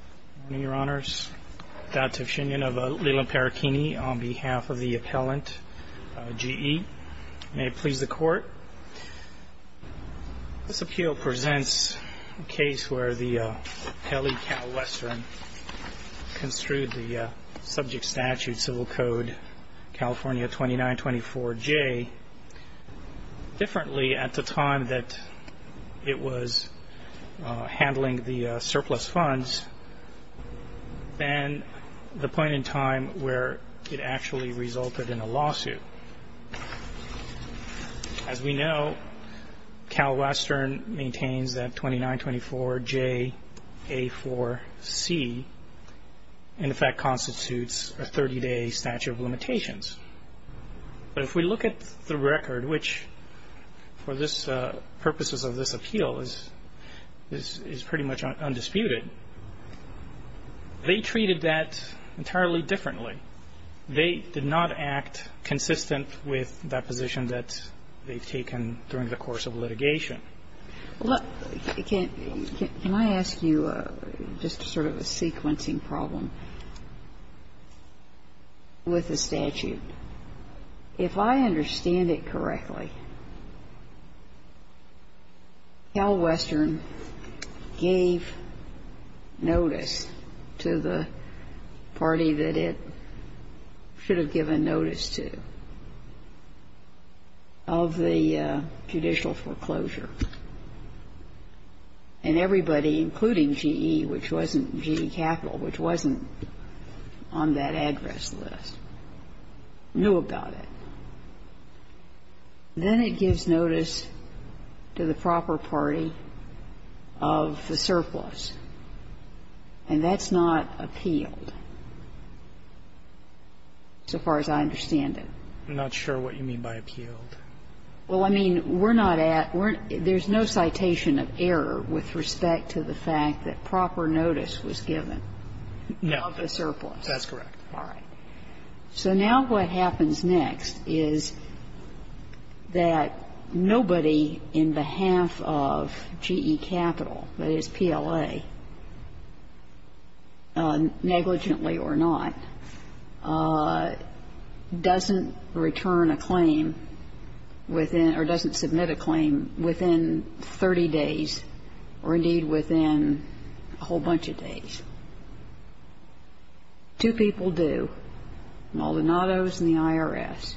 Good morning, your honors. Dato Shingen of Leland-Perechini on behalf of the appellant G.E. May it please the court. This appeal presents a case where the Pele-Calwestern construed the subject statute, Civil Code, California 2924-J, differently at the time that it was handling the surplus funds than the point in time where it actually resulted in a lawsuit. As we know, Calwestern maintains that 2924-J-A4-C in effect constitutes a 30-day statute of limitations. But if we look at the record, which for this purpose of this appeal is pretty much undisputed, they treated that entirely differently. They did not act consistent with that position that they've taken during the course of litigation. Well, can I ask you just sort of a sequencing problem with the statute? If I understand it correctly, Calwestern gave notice to the party that it should have given notice to of the judicial foreclosure, and everybody, including G.E., which wasn't G.E. Capital, which wasn't on that address list, knew about it. Then it gives notice to the proper party of the surplus, and that's not appealed, so far as I understand it. I'm not sure what you mean by appealed. Well, I mean, we're not at we're not at there's no citation of error with respect to the fact that proper notice was given of the surplus. No. That's correct. All right. So now what happens next is that nobody in behalf of G.E. Capital, that is PLA, negligently or not, doesn't return a claim within or doesn't submit a claim within 30 days or, indeed, within a whole bunch of days. Two people do, Maldonado's and the IRS.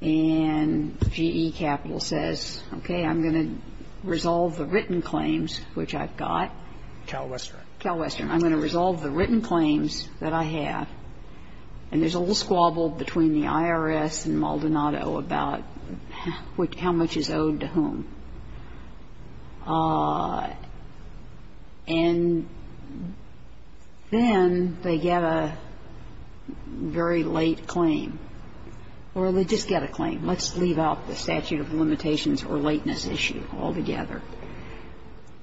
And G.E. Capital says, okay, I'm going to resolve the written claims, which I've got. Calwestern. Calwestern. I'm going to resolve the written claims that I have. And there's a little squabble between the IRS and Maldonado about how much is owed to whom. And then they get a very late claim, or they just get a claim. Let's leave out the statute of limitations or lateness issue altogether.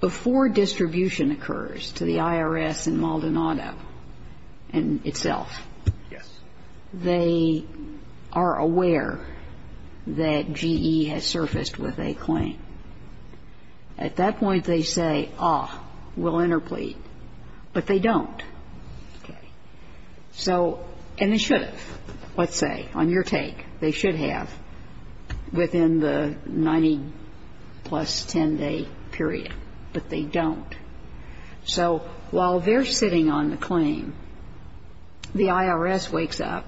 Before distribution occurs to the IRS and Maldonado and itself, they are aware that at that point they say, ah, we'll interplead. But they don't. Okay. So they should have, let's say, on your take, they should have within the 90-plus 10-day period. But they don't. So while they're sitting on the claim, the IRS wakes up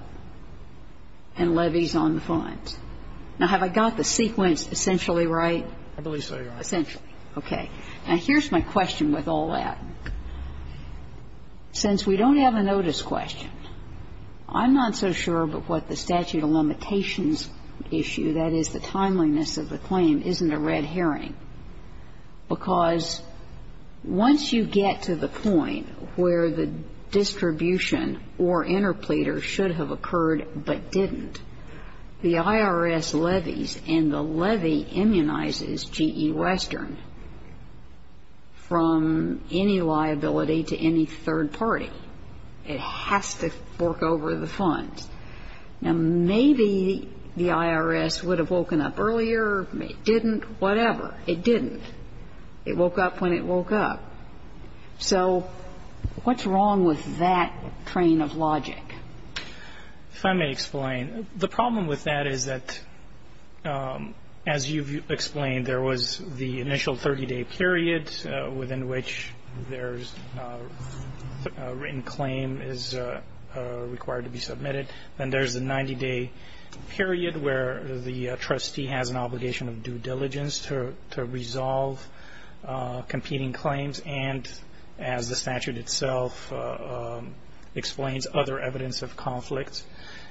and levies on the funds. Now, have I got the sequence essentially right? I believe so, Your Honor. Essentially. Okay. Now, here's my question with all that. Since we don't have a notice question, I'm not so sure about what the statute of limitations issue, that is, the timeliness of the claim, isn't a red herring. Because once you get to the point where the distribution or interpleader should have occurred but didn't, the IRS levies and the levy immunizes G.E. Western from any liability to any third party. It has to fork over the funds. Now, maybe the IRS would have woken up earlier. It didn't. Whatever. It didn't. It woke up when it woke up. So what's wrong with that train of logic? If I may explain, the problem with that is that, as you've explained, there was the initial 30-day period within which there's a written claim is required to be submitted. Then there's a 90-day period where the trustee has an obligation of due diligence to resolve competing claims and, as the statute itself explains, other evidence of conflict.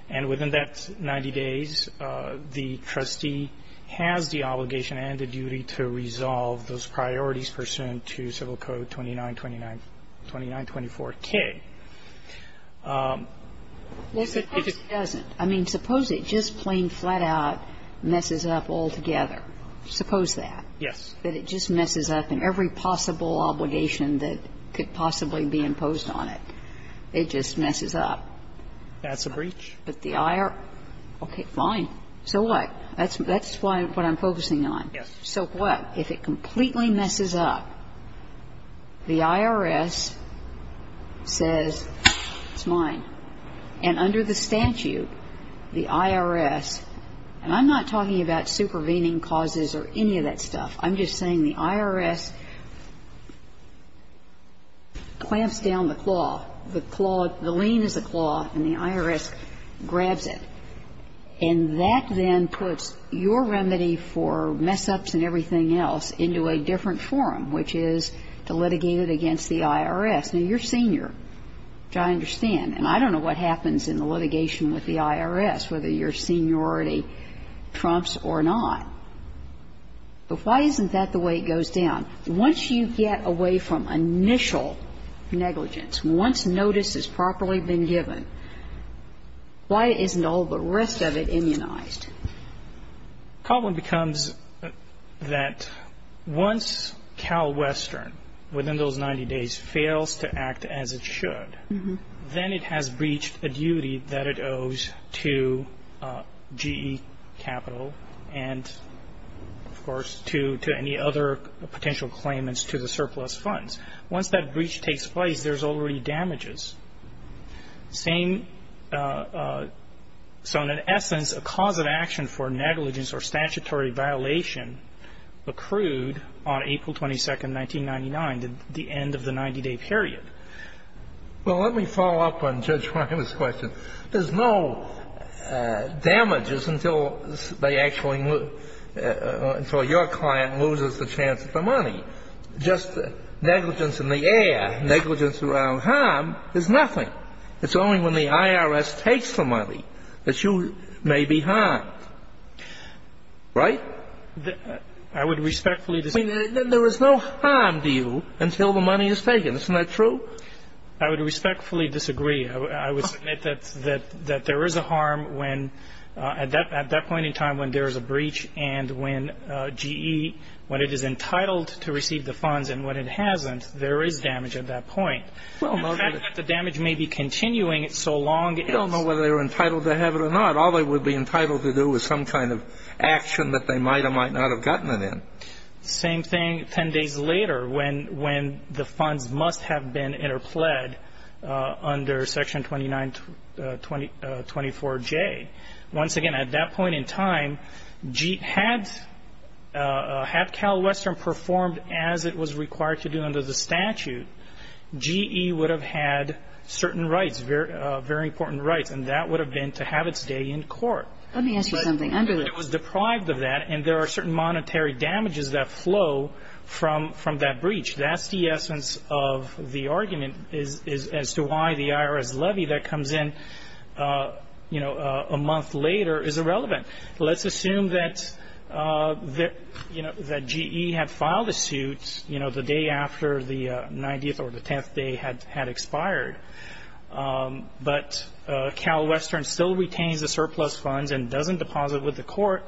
And within that 90 days, the trustee has the obligation and the duty to resolve those priorities pursuant to Civil Code 2924K. If it doesn't, I mean, suppose it just plain flat-out messes up altogether. Suppose that. Yes. That it just messes up and every possible obligation that could possibly be imposed on it, it just messes up. That's a breach. But the IRS, okay, fine. So what? That's what I'm focusing on. Yes. So what? If it completely messes up, the IRS says, it's mine. And under the statute, the IRS, and I'm not talking about supervening causes or any of that stuff. I'm just saying the IRS clamps down the claw. The claw, the lien is the claw, and the IRS grabs it. And that then puts your remedy for mess-ups and everything else into a different forum, which is to litigate it against the IRS. Now, you're senior, which I understand. And I don't know what happens in the litigation with the IRS, whether your seniority trumps or not. But why isn't that the way it goes down? Once you get away from initial negligence, once notice has properly been given, why isn't all the rest of it immunized? The problem becomes that once CalWestern, within those 90 days, fails to act as it should, then it has breached a duty that it owes to GE Capital and, of course, to any other potential claimants to the surplus funds. Once that breach takes place, there's already damages. Same so in an essence, a cause of action for negligence or statutory violation accrued on April 22nd, 1999, the end of the 90-day period. Well, let me follow up on Judge Reiner's question. There's no damages until they actually move, until your client loses the chance of the money. Just negligence in the air, negligence around harm is nothing. It's only when the IRS takes the money that you may be harmed. Right? I would respectfully disagree. There is no harm to you until the money is taken. Isn't that true? I would respectfully disagree. I would submit that there is a harm when, at that point in time when there is a breach and when GE, when it is entitled to receive the funds and when it hasn't, there is damage at that point. The fact that the damage may be continuing so long is. We don't know whether they were entitled to have it or not. All they would be entitled to do is some kind of action that they might or might not have gotten it in. Same thing 10 days later when the funds must have been interpled under Section 2924J. Once again, at that point in time, had CalWestern performed as it was required to do under the statute, GE would have had certain rights, very important rights, and that would have been to have its day in court. Let me ask you something. It was deprived of that, and there are certain monetary damages that flow from that breach. That's the essence of the argument as to why the IRS levy that comes in, you know, a month later is irrelevant. Let's assume that, you know, that GE had filed a suit, you know, the day after the 90th or the 10th day had expired, but CalWestern still retains the surplus funds and doesn't deposit with the court.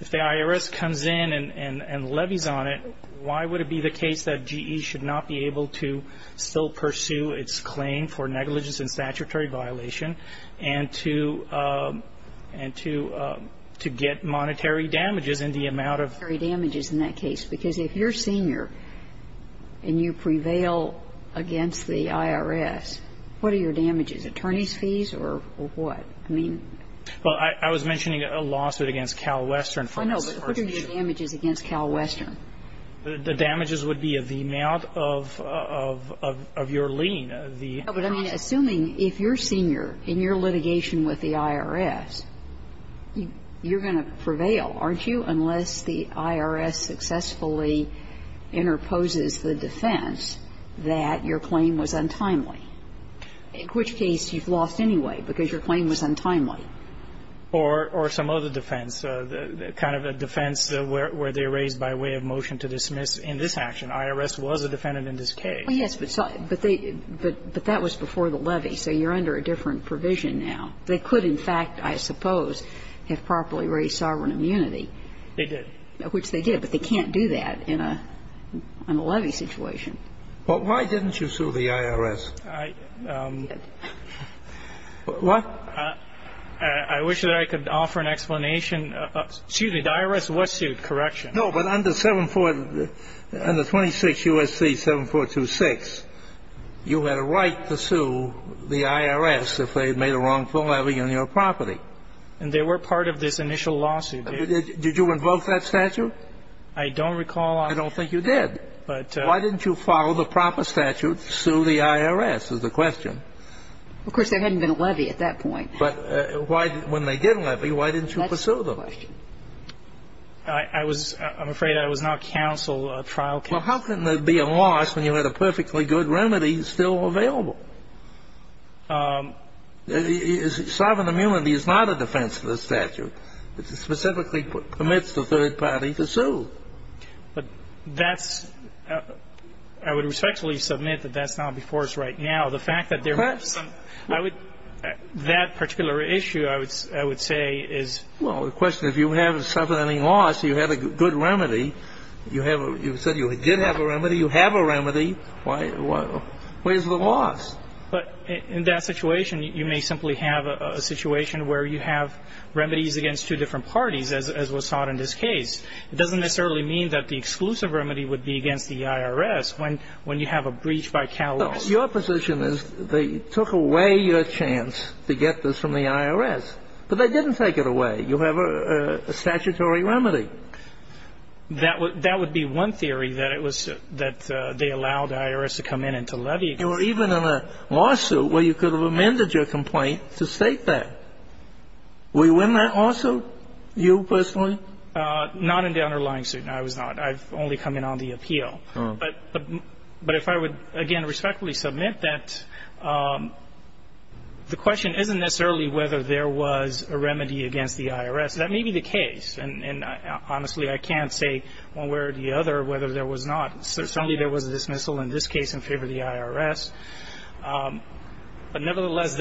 If the IRS comes in and levies on it, why would it be the case that GE should not be able to still pursue its claim for negligence and statutory violation and to get monetary damages in the amount of? Monetary damages in that case. Because if you're senior and you prevail against the IRS, what are your damages, attorney's fees or what? I mean ---- Well, I was mentioning a lawsuit against CalWestern. I know. But what are your damages against CalWestern? The damages would be the amount of your lien. But I mean, assuming if you're senior in your litigation with the IRS, you're going to prevail, aren't you, unless the IRS successfully interposes the defense that your claim was untimely, in which case you've lost anyway because your claim was untimely. Or some other defense, kind of a defense where they're raised by way of motion to dismiss in this action. IRS was a defendant in this case. Well, yes, but they ---- but that was before the levy. So you're under a different provision now. They could, in fact, I suppose, have properly raised sovereign immunity. They did. Which they did. But they can't do that in a levy situation. Well, why didn't you sue the IRS? I wish that I could offer an explanation. Excuse me. The IRS was sued. Correction. No, but under 740 ---- under 26 U.S.C. 7426, you had a right to sue the IRS if they had made a wrongful levy on your property. And they were part of this initial lawsuit. Did you invoke that statute? I don't recall. I don't think you did. But ---- Why didn't you follow the proper statute to sue the IRS is the question. Of course, there hadn't been a levy at that point. But why didn't you pursue them? That's the question. I was ---- I'm afraid I was not counsel, trial counsel. Well, how can there be a loss when you had a perfectly good remedy still available? Sovereign immunity is not a defense to the statute. It specifically permits the third party to sue. But that's ---- I would respectfully submit that that's not before us right now. The fact that there ---- Perhaps. I would ---- that particular issue, I would say, is ---- Well, the question, if you haven't suffered any loss, you have a good remedy, you have a ---- you said you did have a remedy. You have a remedy. Why ---- where's the loss? But in that situation, you may simply have a situation where you have remedies against two different parties, as was sought in this case. It doesn't necessarily mean that the exclusive remedy would be against the IRS when you have a breach by catalogs. Your position is they took away your chance to get this from the IRS, but they didn't take it away. You have a statutory remedy. That would be one theory, that it was that they allowed the IRS to come in and to levy. You were even in a lawsuit where you could have amended your complaint to state that. Were you in that lawsuit, you personally? Not in the underlying suit. I was not. I've only come in on the appeal. But if I would, again, respectfully submit that the question isn't necessarily whether there was a remedy against the IRS. That may be the case. And honestly, I can't say one way or the other whether there was not. Certainly there was a dismissal in this case in favor of the IRS. But nevertheless,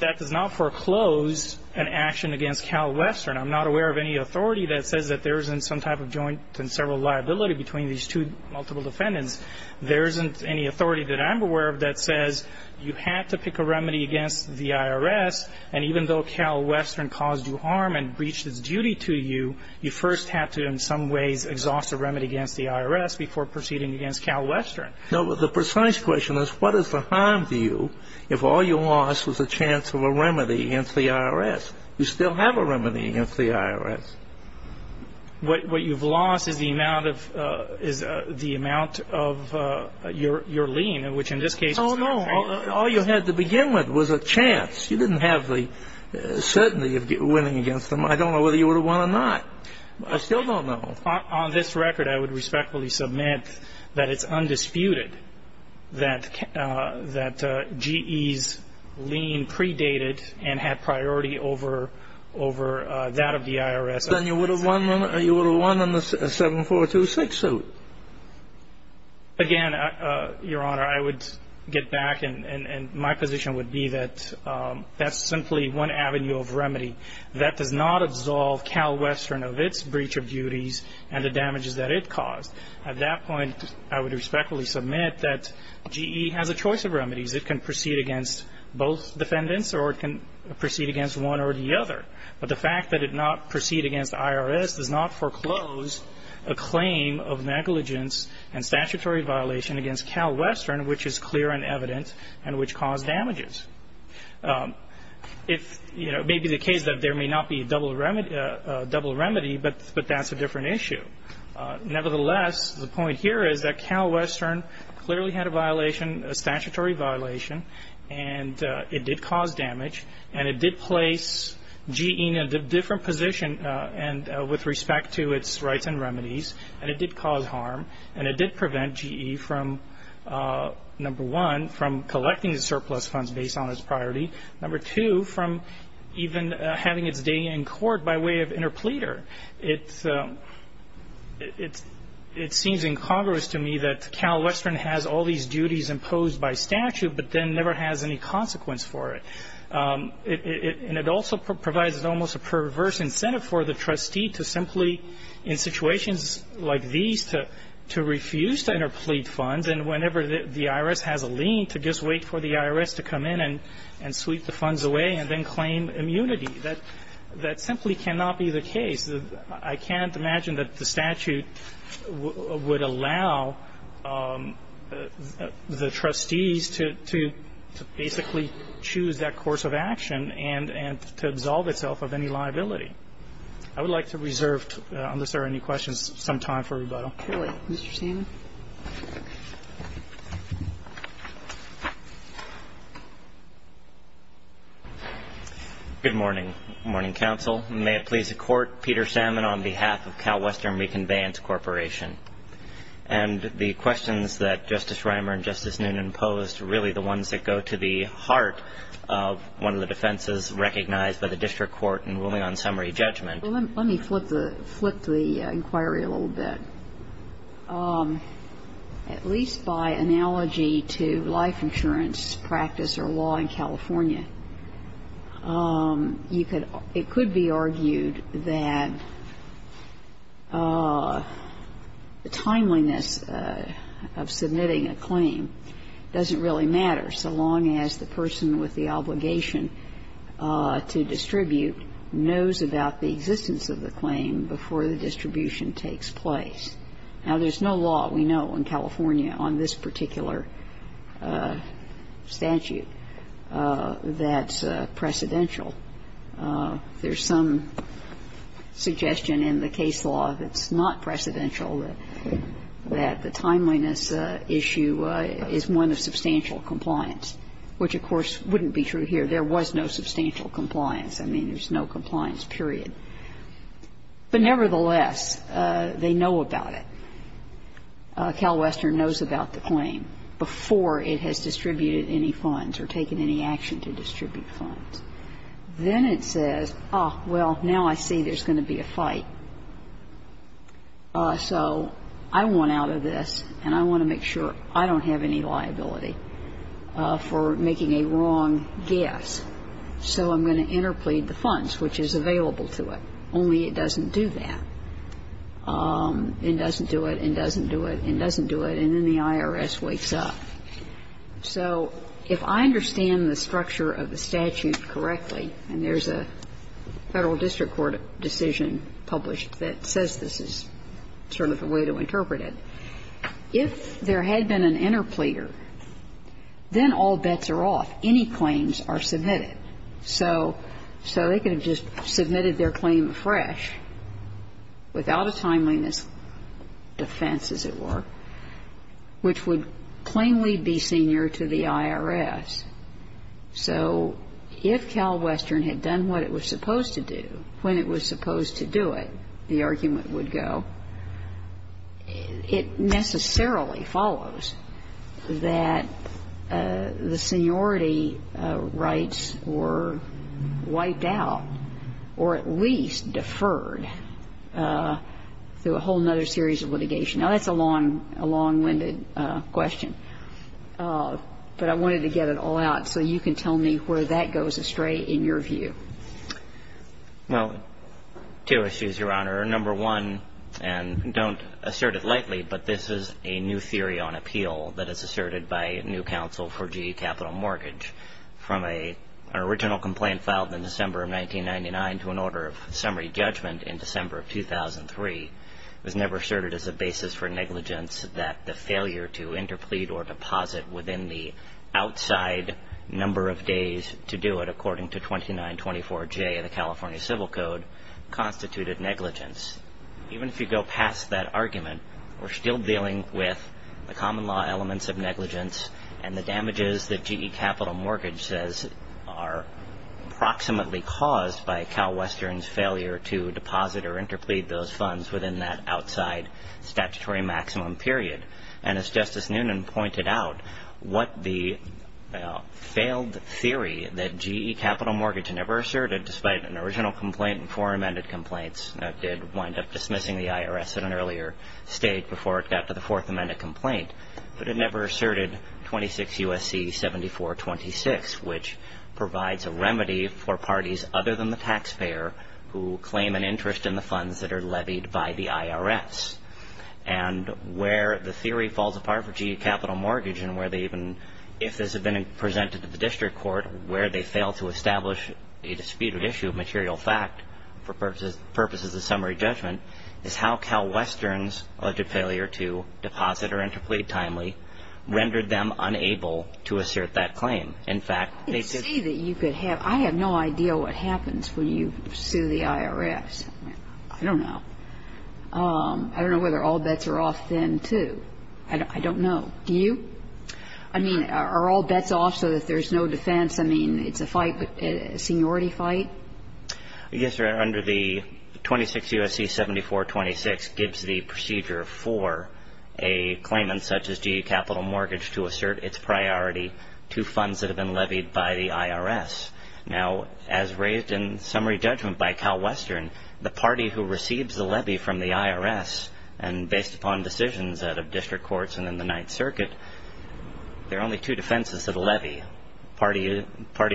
that does not foreclose an action against CalWestern. I'm not aware of any authority that says that there isn't some type of joint and several liability between these two multiple defendants. There isn't any authority that I'm aware of that says you had to pick a remedy against the IRS. And even though CalWestern caused you harm and breached its duty to you, you first had to in some ways exhaust a remedy against the IRS before proceeding against CalWestern. No, but the precise question is, what is the harm to you if all you lost was a chance of a remedy against the IRS? You still have a remedy against the IRS. What you've lost is the amount of your lien, which in this case was not free. No. All you had to begin with was a chance. You didn't have the certainty of winning against them. I don't know whether you would have won or not. I still don't know. On this record, I would respectfully submit that it's undisputed that GE's lien predated and had priority over that of the IRS. Then you would have won on the 7426 suit. Again, Your Honor, I would get back, and my position would be that that's simply one avenue of remedy. That does not absolve CalWestern of its breach of duties and the damages that it caused. At that point, I would respectfully submit that GE has a choice of remedies. It can proceed against both defendants, or it can proceed against one or the other. But the fact that it did not proceed against the IRS does not foreclose a claim of negligence and statutory violation against CalWestern, which is clear and evident and which caused damages. It may be the case that there may not be a double remedy, but that's a different issue. Nevertheless, the point here is that CalWestern clearly had a violation, a statutory violation, and it did cause damage. And it did place GE in a different position with respect to its rights and remedies, and it did cause harm, and it did prevent GE from, number one, from collecting the surplus funds based on its priority, number two, from even having its day in court by way of interpleader. It seems incongruous to me that CalWestern has all these duties imposed by statute, but then never has any consequence for it. And it also provides almost a perverse incentive for the trustee to simply, in situations like these, to refuse to interplead funds. And whenever the IRS has a lien, to just wait for the IRS to come in and sweep the funds away and then claim immunity. That simply cannot be the case. I can't imagine that the statute would allow the trustees to basically choose that course of action and to absolve itself of any liability. I would like to reserve, unless there are any questions, some time for rebuttal. Kagan. Good morning. Good morning, counsel. May it please the Court. Peter Salmon on behalf of CalWestern Reconveyance Corporation. And the questions that Justice Reimer and Justice Noonan posed are really the ones that go to the heart of one of the defenses recognized by the district court in ruling on summary judgment. Let me flip the inquiry a little bit. At least by analogy to life insurance practice or law in California, it could be argued that the timeliness of submitting a claim doesn't really matter so long as the person with the obligation to distribute knows about the existence of the claim before the distribution takes place. Now, there's no law we know in California on this particular statute that's precedential. There's some suggestion in the case law that's not precedential, that the timeliness issue is one of substantial compliance, which, of course, wouldn't be true here. There was no substantial compliance. I mean, there's no compliance, period. But nevertheless, they know about it. CalWestern knows about the claim before it has distributed any funds or taken any action to distribute funds. Then it says, oh, well, now I see there's going to be a fight. So I want out of this, and I want to make sure I don't have any liability for making a wrong guess. So I'm going to interplead the funds, which is available to it, only it doesn't do that. It doesn't do it and doesn't do it and doesn't do it, and then the IRS wakes up. So if I understand the structure of the statute correctly, and there's a Federal District Court decision published that says this is sort of the way to interpret it, if there had been an interpleader, then all bets are off. Any claims are submitted. So they could have just submitted their claim fresh without a timeliness defense, as it were, which would plainly be senior to the IRS. So if CalWestern had done what it was supposed to do when it was supposed to do it, the argument would go, it necessarily follows that the seniority rights were wiped out, or at least deferred through a whole other series of litigation. Now, that's a long-winded question, but I wanted to get it all out so you can tell me where that goes astray in your view. Well, two issues, Your Honor. Number one, and don't assert it lightly, but this is a new theory on appeal that is asserted by new counsel for GE Capital Mortgage. From an original complaint filed in December of 1999 to an order of summary judgment in December of 2003, it was never asserted as a basis for negligence that the failure to interplead or deposit within the outside number of days to do it, according to 2924J of the California Civil Code, constituted negligence. Even if you go past that argument, we're still dealing with the common law elements of negligence and the damages that GE Capital Mortgage says are approximately caused by CalWestern's failure to deposit or interplead those funds within that outside statutory maximum period. And as Justice Noonan pointed out, what the failed theory that GE Capital Mortgage never asserted, despite an original complaint and four amended complaints, did wind up dismissing the IRS at an earlier stage before it got to the fourth amended complaint, but it never asserted 26 U.S.C. 7426, which provides a remedy for parties other than the taxpayer who claim an interest in the funds that are levied by the IRS. And where the theory falls apart for GE Capital Mortgage and where they even, if this had been presented to the district court, where they failed to establish a disputed issue of material fact for purposes of summary judgment, is how CalWestern's alleged failure to deposit or interplead timely rendered them unable to assert that claim. In fact, they said that you could have, I have no idea what happens when you sue the IRS. I don't know. I don't know whether all bets are off then, too. I don't know. Do you? I mean, are all bets off so that there's no defense? I mean, it's a fight, a seniority fight? Yes, Your Honor. Under the 26 U.S.C. 7426 gives the procedure for a claimant such as GE Capital Mortgage to assert its priority to funds that have been levied by the IRS. Now, as raised in summary judgment by CalWestern, the party who receives the levy from the IRS, and based upon decisions out of district courts and in the Ninth Circuit, there are only two defenses to the levy, the party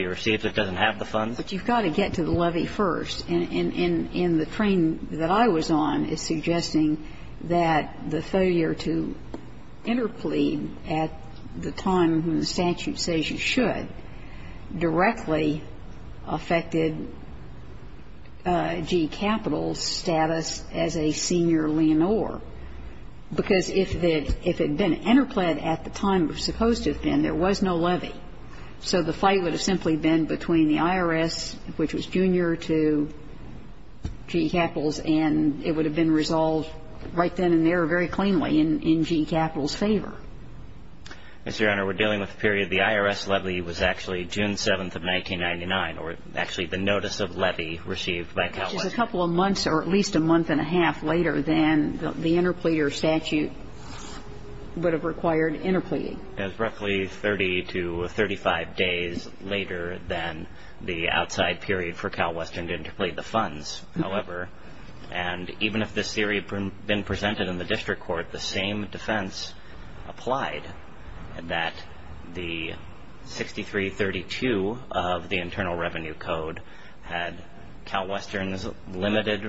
who receives it doesn't have the funds. But you've got to get to the levy first. And the frame that I was on is suggesting that the failure to interplead at the time when the statute says you should directly affected GE Capital's status as a senior leonore. Because if it had been interpled at the time it was supposed to have been, there was no levy. So the fight would have simply been between the IRS, which was junior to GE Capital's, and it would have been resolved right then and there very cleanly in GE Capital's favor. Mr. Your Honor, we're dealing with the period the IRS levy was actually June 7th of 1999, or actually the notice of levy received by CalWestern. Which is a couple of months or at least a month and a half later than the interpleader statute would have required interpleading. It was roughly 30 to 35 days later than the outside period for CalWestern to interplead the funds. However, and even if this theory had been presented in the district court, the same defense applied that the 6332 of the Internal Revenue Code had CalWestern's limited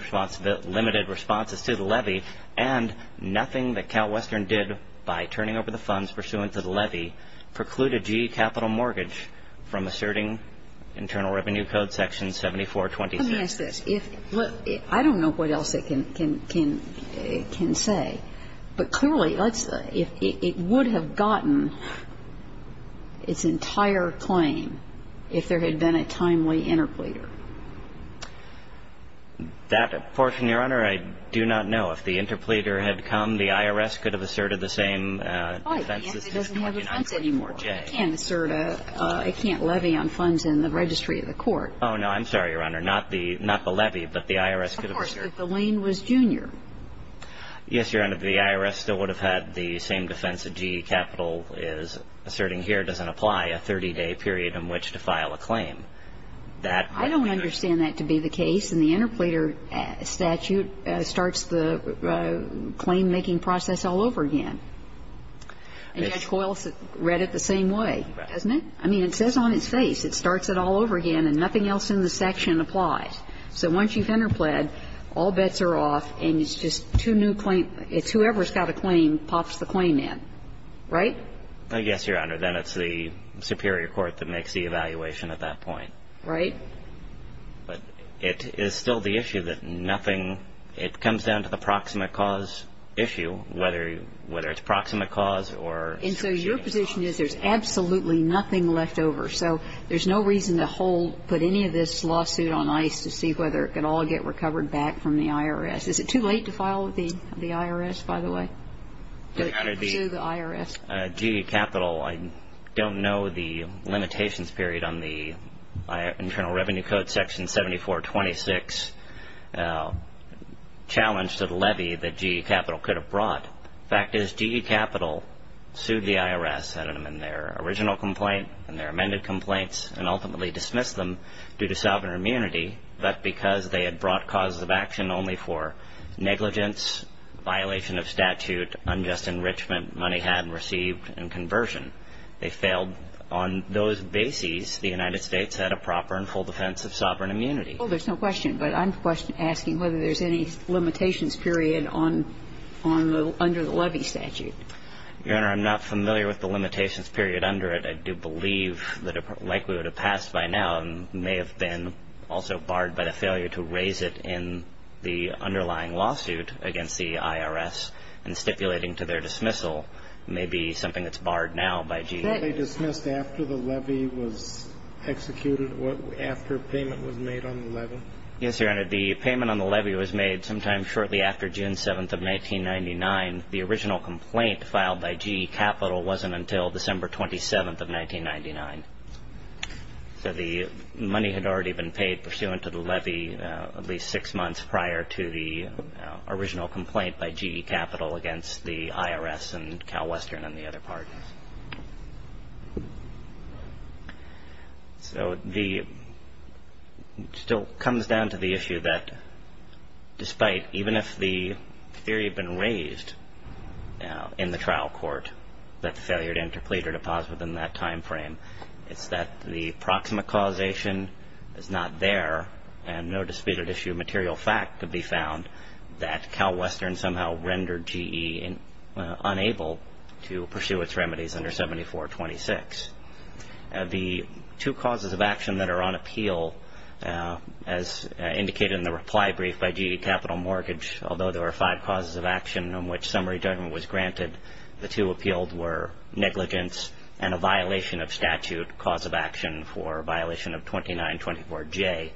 responses to the levy. And nothing that CalWestern did by turning over the funds pursuant to the levy precluded GE Capital mortgage from asserting Internal Revenue Code section 7426. Let me ask this. I don't know what else it can say. But clearly it would have gotten its entire claim if there had been a timely interpleader. That portion, Your Honor, I do not know. If the interpleader had come, the IRS could have asserted the same defense. It doesn't have a defense anymore. Oh, no, I'm sorry, Your Honor. Not the levy, but the IRS could have asserted. Of course, if the lien was junior. Yes, Your Honor, the IRS still would have had the same defense that GE Capital is asserting here. It doesn't apply a 30-day period in which to file a claim. I don't understand that to be the case. And the interpleader statute starts the claim-making process all over again. And Judge Coyle read it the same way, doesn't it? I mean, it says on its face it starts it all over again, and nothing else in the section applies. So once you've interpled, all bets are off, and it's just two new claims. It's whoever's got a claim pops the claim in. Right? Yes, Your Honor. Then it's the superior court that makes the evaluation at that point. Right. But it is still the issue that nothing – it comes down to the proximate cause issue, whether it's proximate cause or strategic. And so your position is there's absolutely nothing left over. So there's no reason to hold – put any of this lawsuit on ice to see whether it can all get recovered back from the IRS. Is it too late to file the IRS, by the way, to pursue the IRS? GE Capital, I don't know the limitations period on the Internal Revenue Code section 7426 challenge to the levy that GE Capital could have brought. The fact is GE Capital sued the IRS in their original complaint, in their amended complaints, and ultimately dismissed them due to sovereign immunity, but because they had brought causes of action only for negligence, violation of statute, unjust enrichment money had received, and conversion. They failed on those bases. The United States had a proper and full defense of sovereign immunity. Well, there's no question, but I'm asking whether there's any limitations period on the – under the levy statute. Your Honor, I'm not familiar with the limitations period under it. I do believe that it likely would have passed by now and may have been also barred by the failure to raise it in the underlying lawsuit against the IRS and stipulating to their dismissal may be something that's barred now by GE. Were they dismissed after the levy was executed, after payment was made on the levy? Yes, Your Honor. The payment on the levy was made sometime shortly after June 7th of 1999. The original complaint filed by GE Capital wasn't until December 27th of 1999. So the money had already been paid pursuant to the levy at least six months prior to the original complaint by GE Capital against the IRS and CalWestern and the other parties. So the – it still comes down to the issue that despite – even if the theory had been raised in the trial court that the failure to interplead or to pause within that time frame, it's that the proximate causation is not there and no disputed issue of material fact could be found that CalWestern somehow rendered GE unable to pursue its remedies under 7426. The two causes of action that are on appeal as indicated in the reply brief by GE Capital Mortgage, although there were five causes of action on which summary judgment was granted, the two appealed were negligence and a violation of statute cause of action for violation of 2924J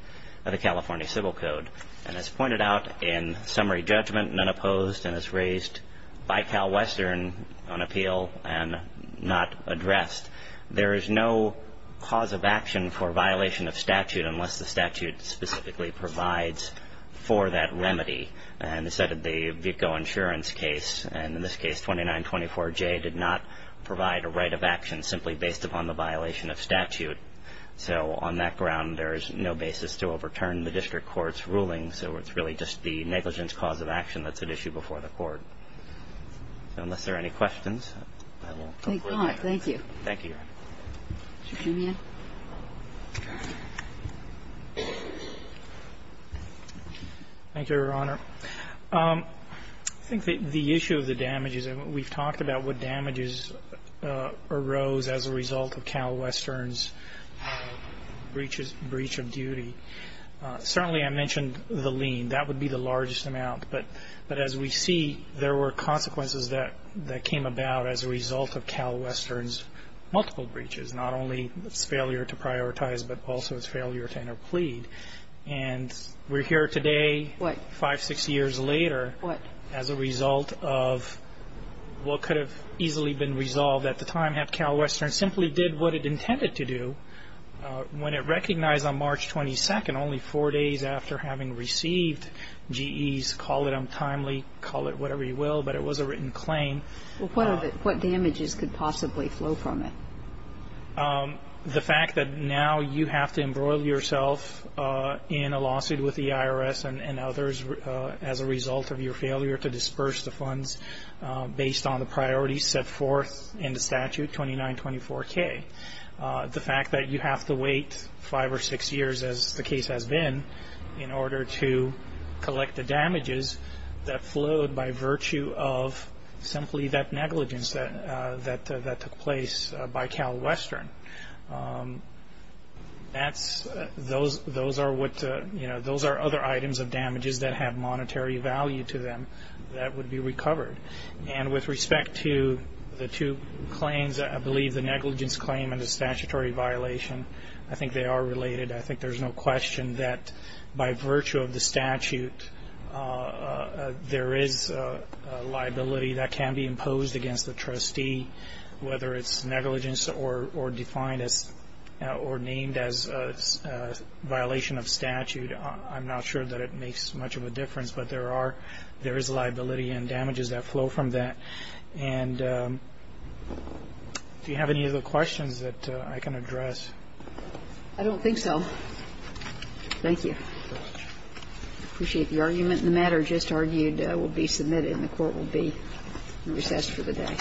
of the California Civil Code. And as pointed out in summary judgment, none opposed, and as raised by CalWestern on appeal and not addressed, there is no cause of action for violation of statute unless the statute specifically provides for that remedy. And as said, the Vico Insurance case, and in this case 2924J, did not provide a right of action simply based upon the violation of statute. So on that ground, there is no basis to overturn the district court's ruling. So it's really just the negligence cause of action that's at issue before the court. So unless there are any questions, I will conclude here. Thank you, Your Honor. Thank you, Your Honor. Mr. Simeon. Thank you, Your Honor. I think the issue of the damages, and we've talked about what damages arose as a result of CalWestern's breach of duty. Certainly I mentioned the lien. That would be the largest amount. But as we see, there were consequences that came about as a result of CalWestern's multiple breaches, not only its failure to prioritize, but also its failure to interplead. And we're here today, five, six years later, as a result of what could have easily been resolved at the time, had CalWestern simply did what it intended to do when it recognized on March 22nd, only four days after having received GE's, call it untimely, call it whatever you will, but it was a written claim. Well, what damages could possibly flow from it? The fact that now you have to embroil yourself in a lawsuit with the IRS and others as a result of your failure to disperse the funds based on the priorities set forth in the statute, 2924K. The fact that you have to wait five or six years, as the case has been, in order to collect the damages that flowed by virtue of simply that negligence that took place by CalWestern. Those are other items of damages that have monetary value to them that would be recovered. And with respect to the two claims, I believe the negligence claim and the statutory violation, I think they are related. I think there's no question that by virtue of the statute, there is a liability that can be imposed against the trustee, whether it's negligence or defined or named as a violation of statute. I'm not sure that it makes much of a difference, but there is liability and damages that flow from that. And do you have any other questions that I can address? I don't think so. Thank you. I appreciate the argument. The matter just argued will be submitted and the Court will be recessed for the day.